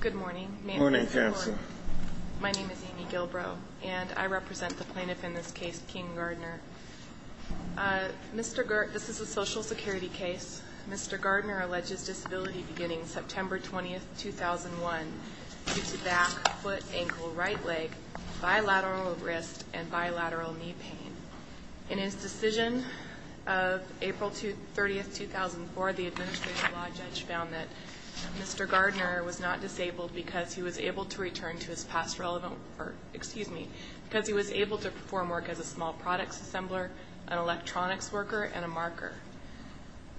Good morning. My name is Amy Gilbrow and I represent the plaintiff in this case, King Gardner. This is a social security case. Mr. Gardner alleges disability beginning September 20, 2001 due to back, foot, ankle, right leg, bilateral wrist, and bilateral knee pain. In his decision of April 30, 2004, the administrative law judge found that Mr. Gardner was not disabled because he was able to return to his past relevant work, excuse me, because he was able to perform work as a small products assembler, an electronics worker, and a marker.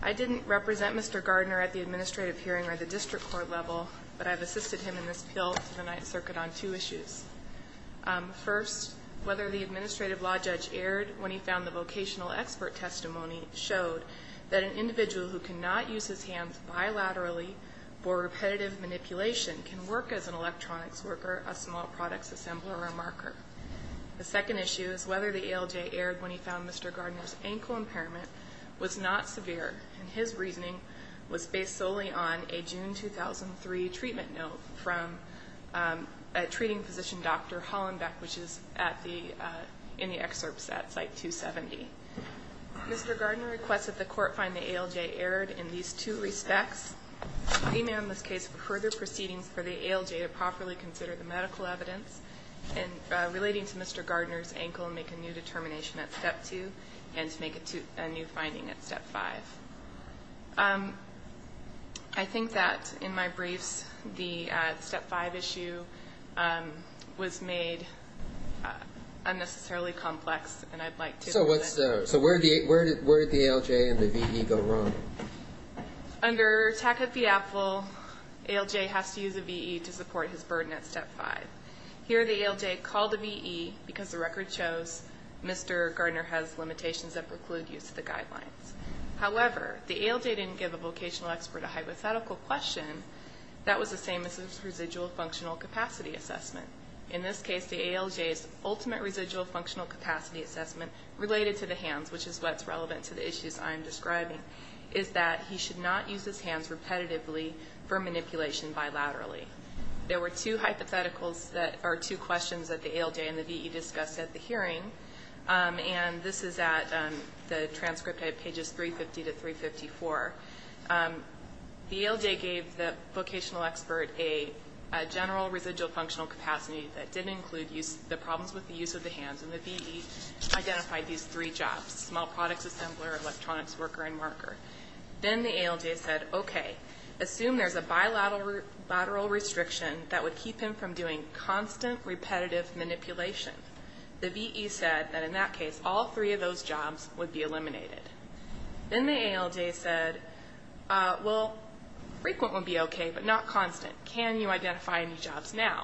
I didn't represent Mr. Gardner at the administrative hearing or the district court level, but I've assisted him in this appeal to the Ninth Circuit on two issues. First, whether the administrative law judge erred when he found the vocational expert testimony showed that an individual who cannot use his hands bilaterally for repetitive manipulation can work as an electronics worker, a small products assembler, or a marker. The second issue is whether the ALJ erred when he found Mr. Gardner's ankle impairment was not severe, and his reasoning was based solely on a June 2003 treatment note from a treating physician, Dr. Hollenbeck, which is in the excerpts at Site 270. Mr. Gardner requests that the court find the ALJ erred in these two respects. He may, in this case, for further proceedings for the ALJ to properly consider the medical evidence relating to Mr. Gardner's ankle and make a new determination at Step 2 and to make a new finding at Step 5. I think that in my briefs the Step 5 issue was made unnecessarily complex, and I'd like to present it. So where did the ALJ and the VE go wrong? Under TACF-EAPFL, ALJ has to use a VE to support his burden at Step 5. Here the ALJ called a VE because the record shows Mr. Gardner has limitations that preclude use of the guidelines. However, the ALJ didn't give the vocational expert a hypothetical question that was the same as his residual functional capacity assessment. In this case, the ALJ's ultimate residual functional capacity assessment related to the hands, which is what's relevant to the issues I'm describing, is that he should not use his hands repetitively for manipulation bilaterally. There were two hypotheticals that are two questions that the ALJ and the VE discussed at the hearing, and this is at the transcript at pages 350 to 354. The ALJ gave the vocational expert a general residual functional capacity that didn't include the problems with the use of the hands, and the VE identified these three jobs, small products assembler, electronics worker, and marker. Then the ALJ said, okay, assume there's a bilateral restriction that would keep him from doing constant repetitive manipulation. The VE said that in that case, all three of those jobs would be eliminated. Then the ALJ said, well, frequent would be okay, but not constant. Can you identify any jobs now?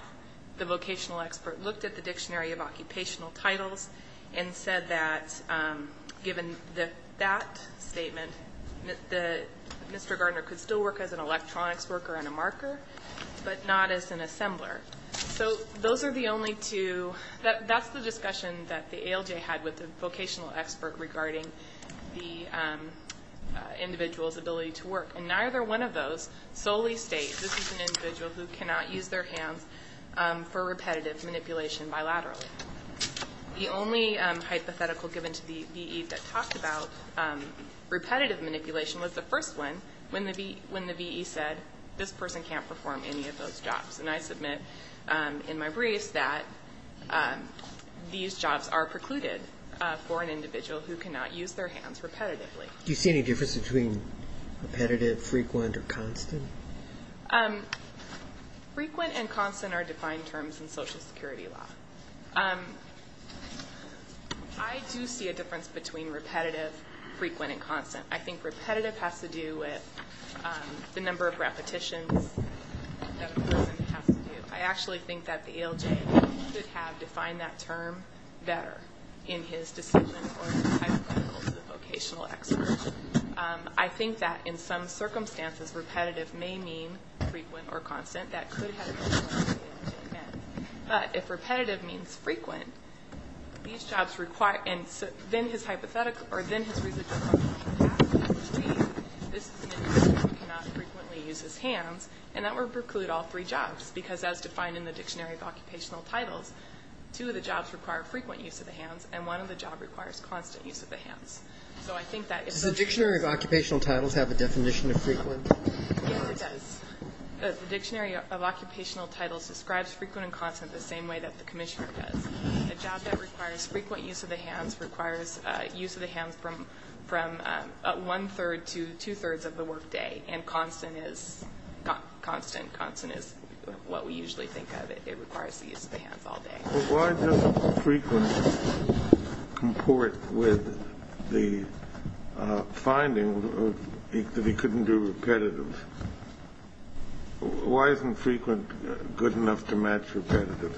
The vocational expert looked at the Dictionary of Occupational Titles and said that given that statement, Mr. Gardner could still work as an electronics worker and a marker, but not as an assembler. So those are the only two. That's the discussion that the ALJ had with the vocational expert regarding the individual's ability to work. And neither one of those solely states this is an individual who cannot use their hands for repetitive manipulation bilaterally. The only hypothetical given to the VE that talked about repetitive manipulation was the first one, when the VE said this person can't perform any of those jobs. And I submit in my briefs that these jobs are precluded for an individual who cannot use their hands repetitively. Do you see any difference between repetitive, frequent, or constant? Frequent and constant are defined terms in Social Security law. I do see a difference between repetitive, frequent, and constant. I think repetitive has to do with the number of repetitions that a person has to do. I actually think that the ALJ could have defined that term better in his decision or hypothetical to the vocational expert. I think that in some circumstances repetitive may mean frequent or constant. That could have been what the ALJ meant. But if repetitive means frequent, these jobs require – and then his hypothetical – or then his reasonable argument would have to be that this is an individual who cannot frequently use his hands, and that would preclude all three jobs, because as defined in the Dictionary of Occupational Titles, two of the jobs require frequent use of the hands, and one of the jobs requires constant use of the hands. So I think that – Does the Dictionary of Occupational Titles have a definition of frequent? Yes, it does. The Dictionary of Occupational Titles describes frequent and constant the same way that the Commissioner does. A job that requires frequent use of the hands requires use of the hands from one-third to two-thirds of the workday, and constant is what we usually think of. It requires the use of the hands all day. But why doesn't frequent comport with the finding that he couldn't do repetitive? Why isn't frequent good enough to match repetitive?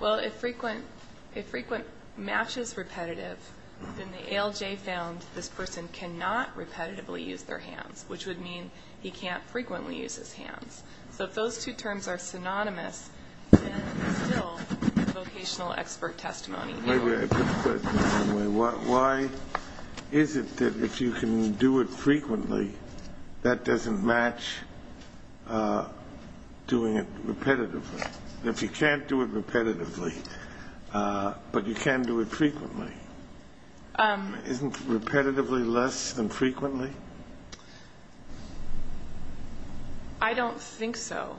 Well, if frequent matches repetitive, then the ALJ found this person cannot repetitively use their hands, which would mean he can't frequently use his hands. So if those two terms are synonymous, then it's still vocational expert testimony. Maybe I put the question the wrong way. Why is it that if you can do it frequently, that doesn't match doing it repetitively? If you can't do it repetitively, but you can do it frequently, isn't repetitively less than frequently? I don't think so.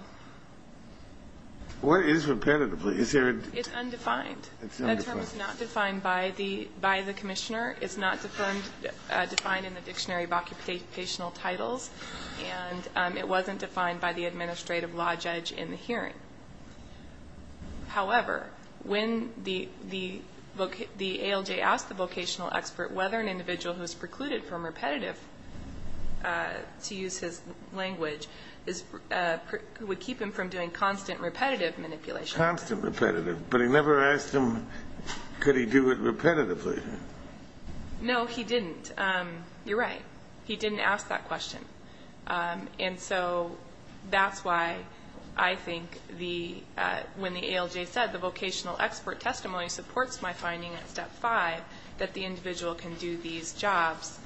It is repetitively. It's undefined. It's undefined. That term is not defined by the Commissioner. It's not defined in the Dictionary of Occupational Titles. And it wasn't defined by the administrative law judge in the hearing. However, when the ALJ asked the vocational expert whether an individual who is precluded from repetitive, to use his language, would keep him from doing constant repetitive manipulation. Constant repetitive. But he never asked him could he do it repetitively. No, he didn't. You're right. He didn't ask that question. And so that's why I think when the ALJ said the vocational expert testimony supports my finding at Step 5, that the individual can do these jobs,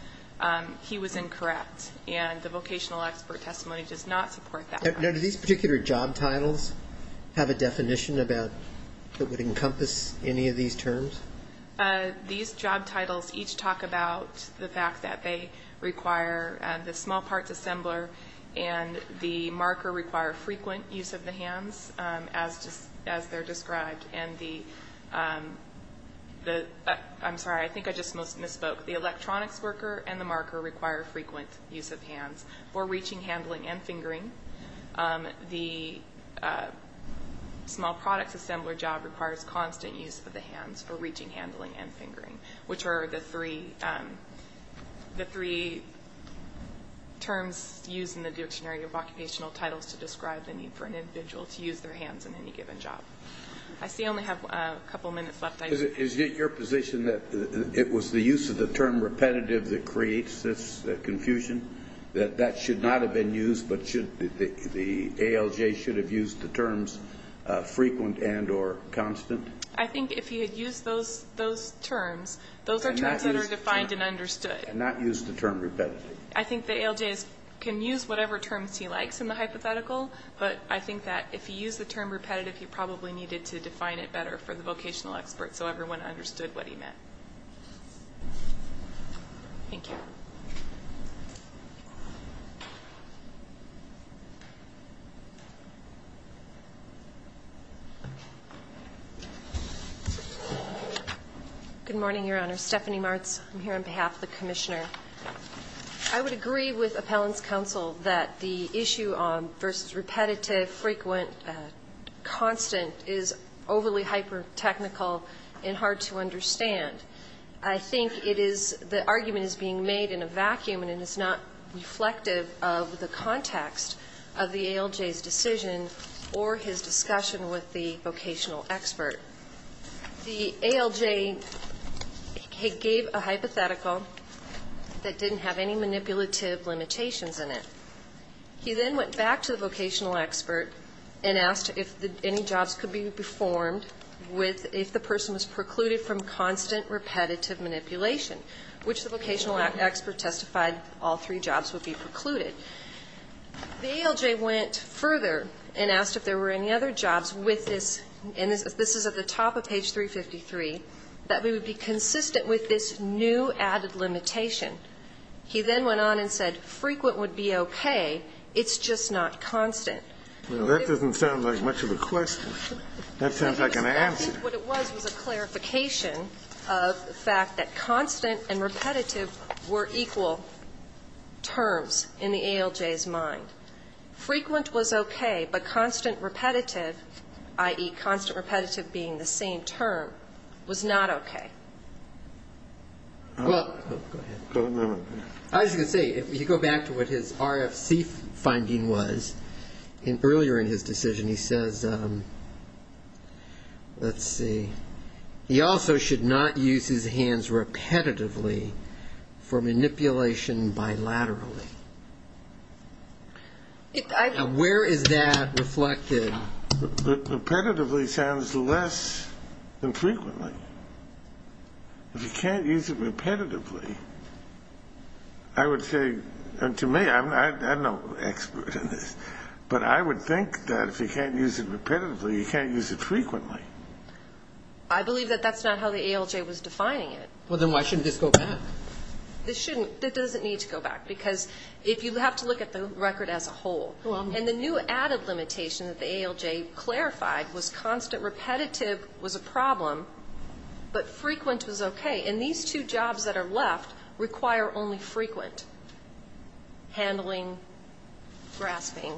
he was incorrect. And the vocational expert testimony does not support that. Now, do these particular job titles have a definition that would encompass any of these terms? These job titles each talk about the fact that they require the small parts assembler and the marker require frequent use of the hands, as they're described. I'm sorry, I think I just misspoke. The electronics worker and the marker require frequent use of hands for reaching, handling, and fingering. The small products assembler job requires constant use of the hands for reaching, handling, and fingering, which are the three terms used in the dictionary of occupational titles to describe the need for an individual to use their hands in any given job. I see I only have a couple minutes left. Is it your position that it was the use of the term repetitive that creates this confusion, that that should not have been used, but the ALJ should have used the terms frequent and or constant? I think if he had used those terms, those are terms that are defined and understood. And not used the term repetitive. I think the ALJ can use whatever terms he likes in the hypothetical, but I think that if he used the term repetitive, he probably needed to define it better for the vocational expert so everyone understood what he meant. Thank you. Good morning, Your Honor. Stephanie Martz. I'm here on behalf of the Commissioner. I would agree with Appellant's counsel that the issue on versus repetitive, frequent, constant is overly hyper-technical and hard to understand. I think it is the argument is being made in a vacuum and it is not reflective of the context of the ALJ's decision or his discussion with the vocational expert. The ALJ gave a hypothetical that didn't have any manipulative limitations in it. He then went back to the vocational expert and asked if any jobs could be performed if the person was precluded from constant repetitive manipulation, which the vocational expert testified all three jobs would be precluded. The ALJ went further and asked if there were any other jobs with this, and this is at the top of page 353, that would be consistent with this new added limitation. He then went on and said frequent would be okay, it's just not constant. Well, that doesn't sound like much of a question. That sounds like an answer. What it was was a clarification of the fact that constant and repetitive were equal terms in the ALJ's mind. Frequent was okay, but constant repetitive, i.e., constant repetitive being the same term, was not okay. Go ahead. As you can see, if you go back to what his RFC finding was, earlier in his decision he says, let's see, he also should not use his hands repetitively for manipulation bilaterally. Where is that reflected? Repetitively sounds less than frequently. If you can't use it repetitively, I would say, and to me, I'm no expert in this, but I would think that if you can't use it repetitively, you can't use it frequently. I believe that that's not how the ALJ was defining it. Well, then why shouldn't this go back? This shouldn't. It doesn't need to go back, because if you have to look at the record as a whole, and the new added limitation that the ALJ clarified was constant repetitive was a problem, but frequent was okay. And these two jobs that are left require only frequent handling, grasping,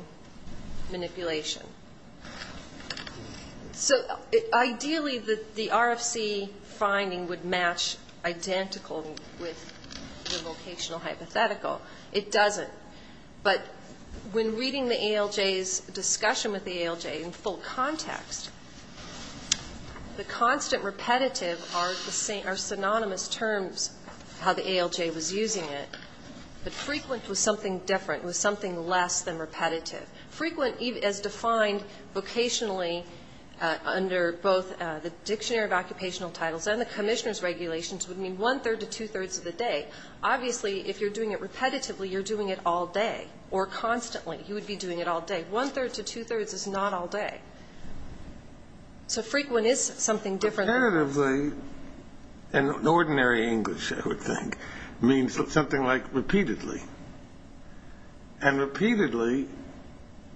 manipulation. So ideally the RFC finding would match identical with the vocational hypothetical. It doesn't. But when reading the ALJ's discussion with the ALJ in full context, the constant repetitive are synonymous terms how the ALJ was using it. But frequent was something different. It was something less than repetitive. Frequent, as defined vocationally under both the Dictionary of Occupational Titles and the Commissioner's Regulations would mean one-third to two-thirds of the day. Obviously, if you're doing it repetitively, you're doing it all day or constantly. You would be doing it all day. One-third to two-thirds is not all day. So frequent is something different. Repetitively, in ordinary English, I would think, means something like repeatedly. And repeatedly,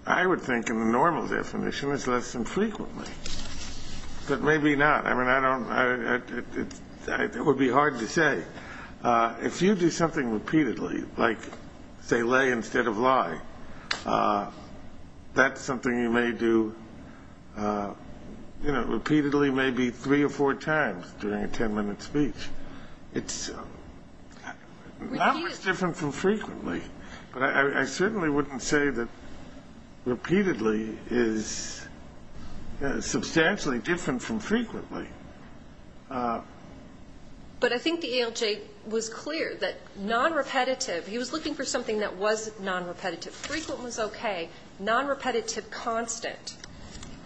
I would think in the normal definition, is less than frequently. But maybe not. I mean, I don't know. It would be hard to say. If you do something repeatedly, like, say, lay instead of lie, that's something you may do repeatedly maybe three or four times during a ten-minute speech. It's not much different from frequently. But I certainly wouldn't say that repeatedly is substantially different from frequently. But I think the ALJ was clear that nonrepetitive, he was looking for something that was nonrepetitive. Frequent was okay. Nonrepetitive constant,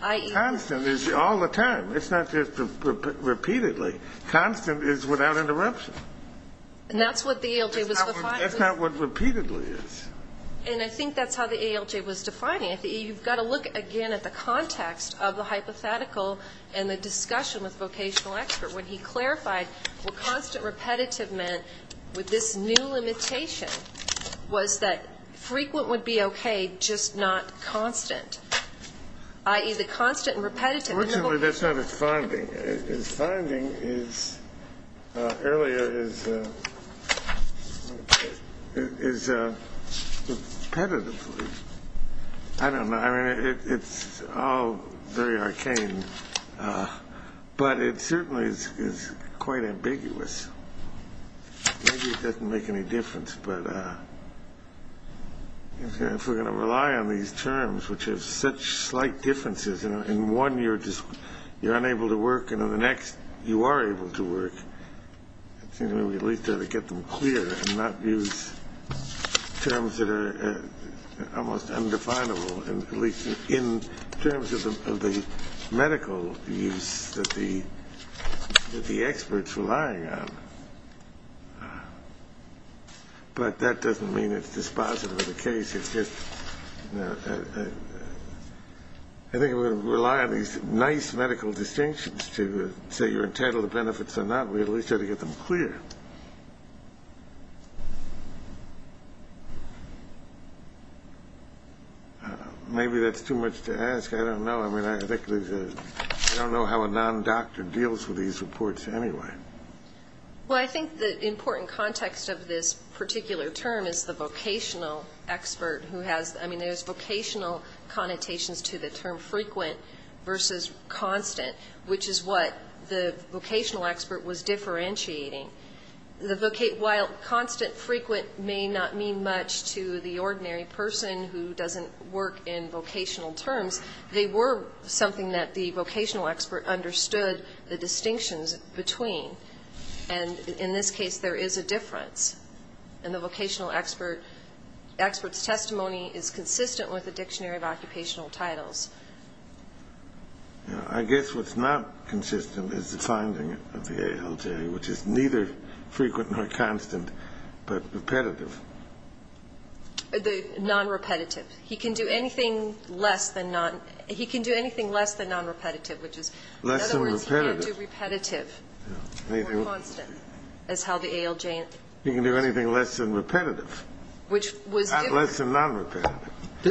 i.e. Constant is all the time. It's not just repeatedly. Constant is without interruption. And that's what the ALJ was defining. That's not what repeatedly is. And I think that's how the ALJ was defining it. You've got to look, again, at the context of the hypothetical and the discussion with vocational expert when he clarified what constant repetitive meant with this new limitation was that frequent would be okay, just not constant, i.e. the constant and repetitive. Originally, that's not his finding. His finding earlier is repetitively. I don't know. I mean, it's all very arcane. But it certainly is quite ambiguous. Maybe it doesn't make any difference. But if we're going to rely on these terms, which have such slight differences, in one you're unable to work and in the next you are able to work, we at least have to get them clear and not use terms that are almost undefinable, at least in terms of the medical use that the expert's relying on. But that doesn't mean it's dispositive of the case. I think if we're going to rely on these nice medical distinctions to say you're entitled to the benefits or not, we at least have to get them clear. Maybe that's too much to ask. I don't know. I mean, I don't know how a non-doctor deals with these reports anyway. Well, I think the important context of this particular term is the vocational expert who has the ‑‑ I mean, there's vocational connotations to the term frequent versus constant, which is what the vocational expert was differentiating. While constant, frequent may not mean much to the ordinary person who doesn't work in vocational terms, they were something that the vocational expert understood the distinctions between. And in this case, there is a difference. And the vocational expert's testimony is consistent with the Dictionary of Occupational Titles. I guess what's not consistent is the finding of the ALJ, which is neither frequent nor constant, but repetitive. The nonrepetitive. He can do anything less than nonrepetitive, which is ‑‑ Less than repetitive. In other words, he can't do repetitive. More constant is how the ALJ ‑‑ He can do anything less than repetitive. Less than nonrepetitive.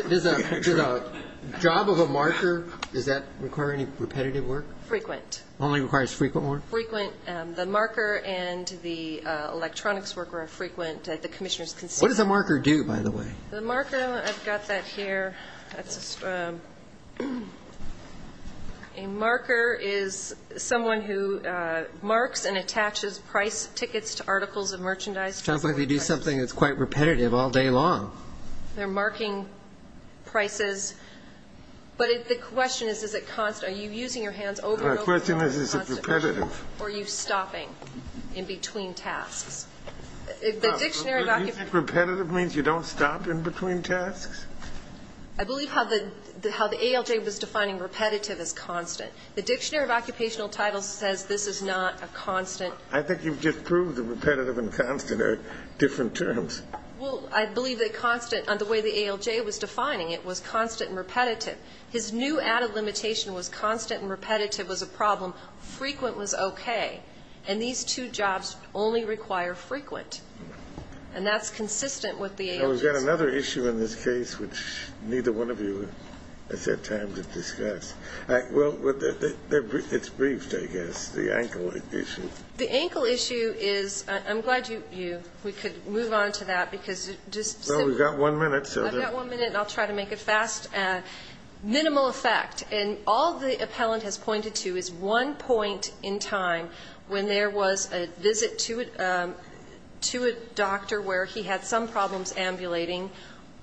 Does a job of a marker, does that require any repetitive work? Frequent. Only requires frequent work? Frequent. The marker and the electronics worker are frequent. The commissioner's consistent. What does a marker do, by the way? The marker, I've got that here. That's a marker is someone who marks and attaches price tickets to articles of merchandise. Sounds like they do something that's quite repetitive all day long. They're marking prices. But the question is, is it constant? Are you using your hands over and over to find the constant? The question is, is it repetitive? Or are you stopping in between tasks? The Dictionary of Occupational ‑‑ You think repetitive means you don't stop in between tasks? I believe how the ALJ was defining repetitive as constant. The Dictionary of Occupational Titles says this is not a constant. I think you've just proved that repetitive and constant are different terms. Well, I believe that constant, the way the ALJ was defining it, was constant and repetitive. His new added limitation was constant and repetitive was a problem. Frequent was okay. And these two jobs only require frequent. And that's consistent with the ALJ. We've got another issue in this case, which neither one of you has had time to discuss. Well, it's briefed, I guess, the ankle issue. The ankle issue is ‑‑ I'm glad we could move on to that, because just simply ‑‑ Well, we've got one minute. I've got one minute, and I'll try to make it fast. Minimal effect. And all the appellant has pointed to is one point in time when there was a visit to a doctor where he had some problems ambulating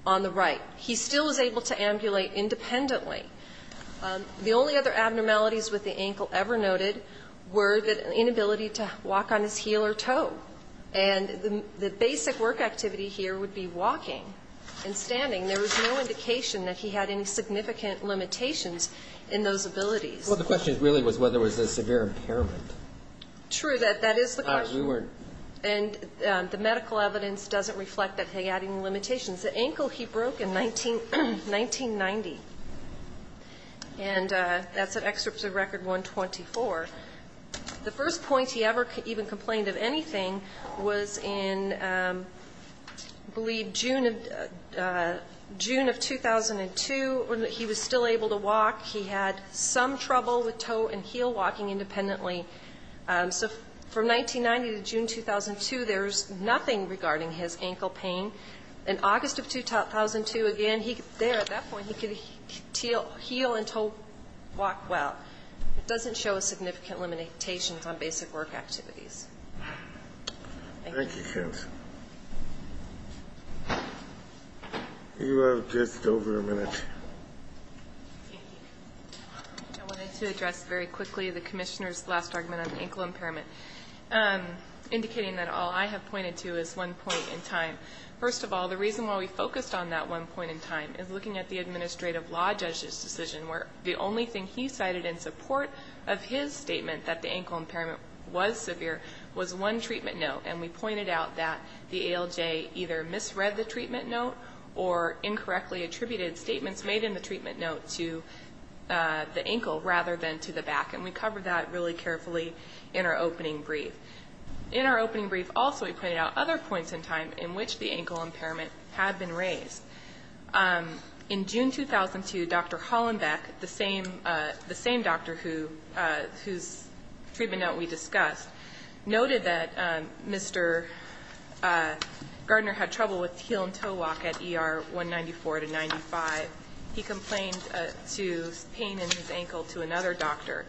on the right. He still was able to ambulate independently. The only other abnormalities with the ankle ever noted were the inability to walk on his heel or toe. And the basic work activity here would be walking and standing. There was no indication that he had any significant limitations in those abilities. Well, the question really was whether there was a severe impairment. True. That is the question. And the medical evidence doesn't reflect that he had any limitations. The ankle he broke in 1990. And that's an excerpt of Record 124. The first point he ever even complained of anything was in, I believe, June of 2002. He was still able to walk. He had some trouble with toe and heel walking independently. So from 1990 to June 2002, there was nothing regarding his ankle pain. In August of 2002, again, there, at that point, he could heal and walk well. It doesn't show a significant limitation on basic work activities. Thank you. Thank you, counsel. You have just over a minute. I wanted to address very quickly the commissioner's last argument on ankle impairment, indicating that all I have pointed to is one point in time. First of all, the reason why we focused on that one point in time is looking at the administrative law judge's decision, where the only thing he cited in support of his statement that the ankle impairment was severe was one treatment note. And we pointed out that the ALJ either misread the treatment note or incorrectly attributed statements made in the treatment note to the ankle rather than to the back. And we covered that really carefully in our opening brief. In our opening brief also, we pointed out other points in time in which the ankle impairment had been raised. In June 2002, Dr. Hollenbeck, the same doctor whose treatment note we discussed, noted that Mr. Gardner had trouble with heel and toe walk at ER 194 to 95. He complained to pain in his ankle to another doctor.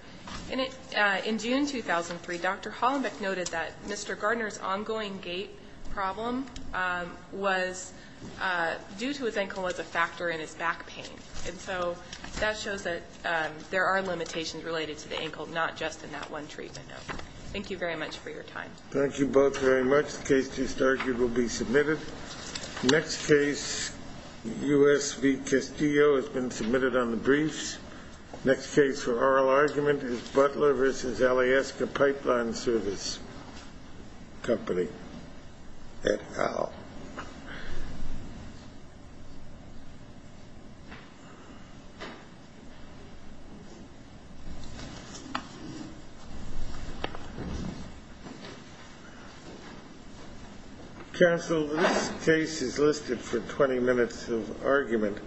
In June 2003, Dr. Hollenbeck noted that Mr. Gardner's ongoing gait problem was due to his ankle as a factor in his back pain. And so that shows that there are limitations related to the ankle, not just in that one treatment note. Thank you very much for your time. Thank you both very much. The case to start here will be submitted. Next case, U.S. v. Castillo has been submitted on the briefs. Next case for oral argument is Butler v. Alaska Pipeline Service Company at Howe. Counsel, this case is listed for 20 minutes of argument.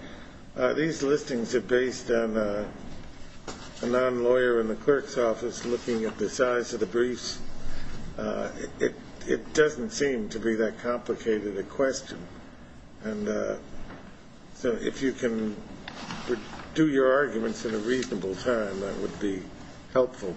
These listings are based on a non-lawyer in the clerk's office looking at the size of the briefs. It doesn't seem to be that complicated a question. And so if you can do your arguments in a reasonable time, that would be helpful.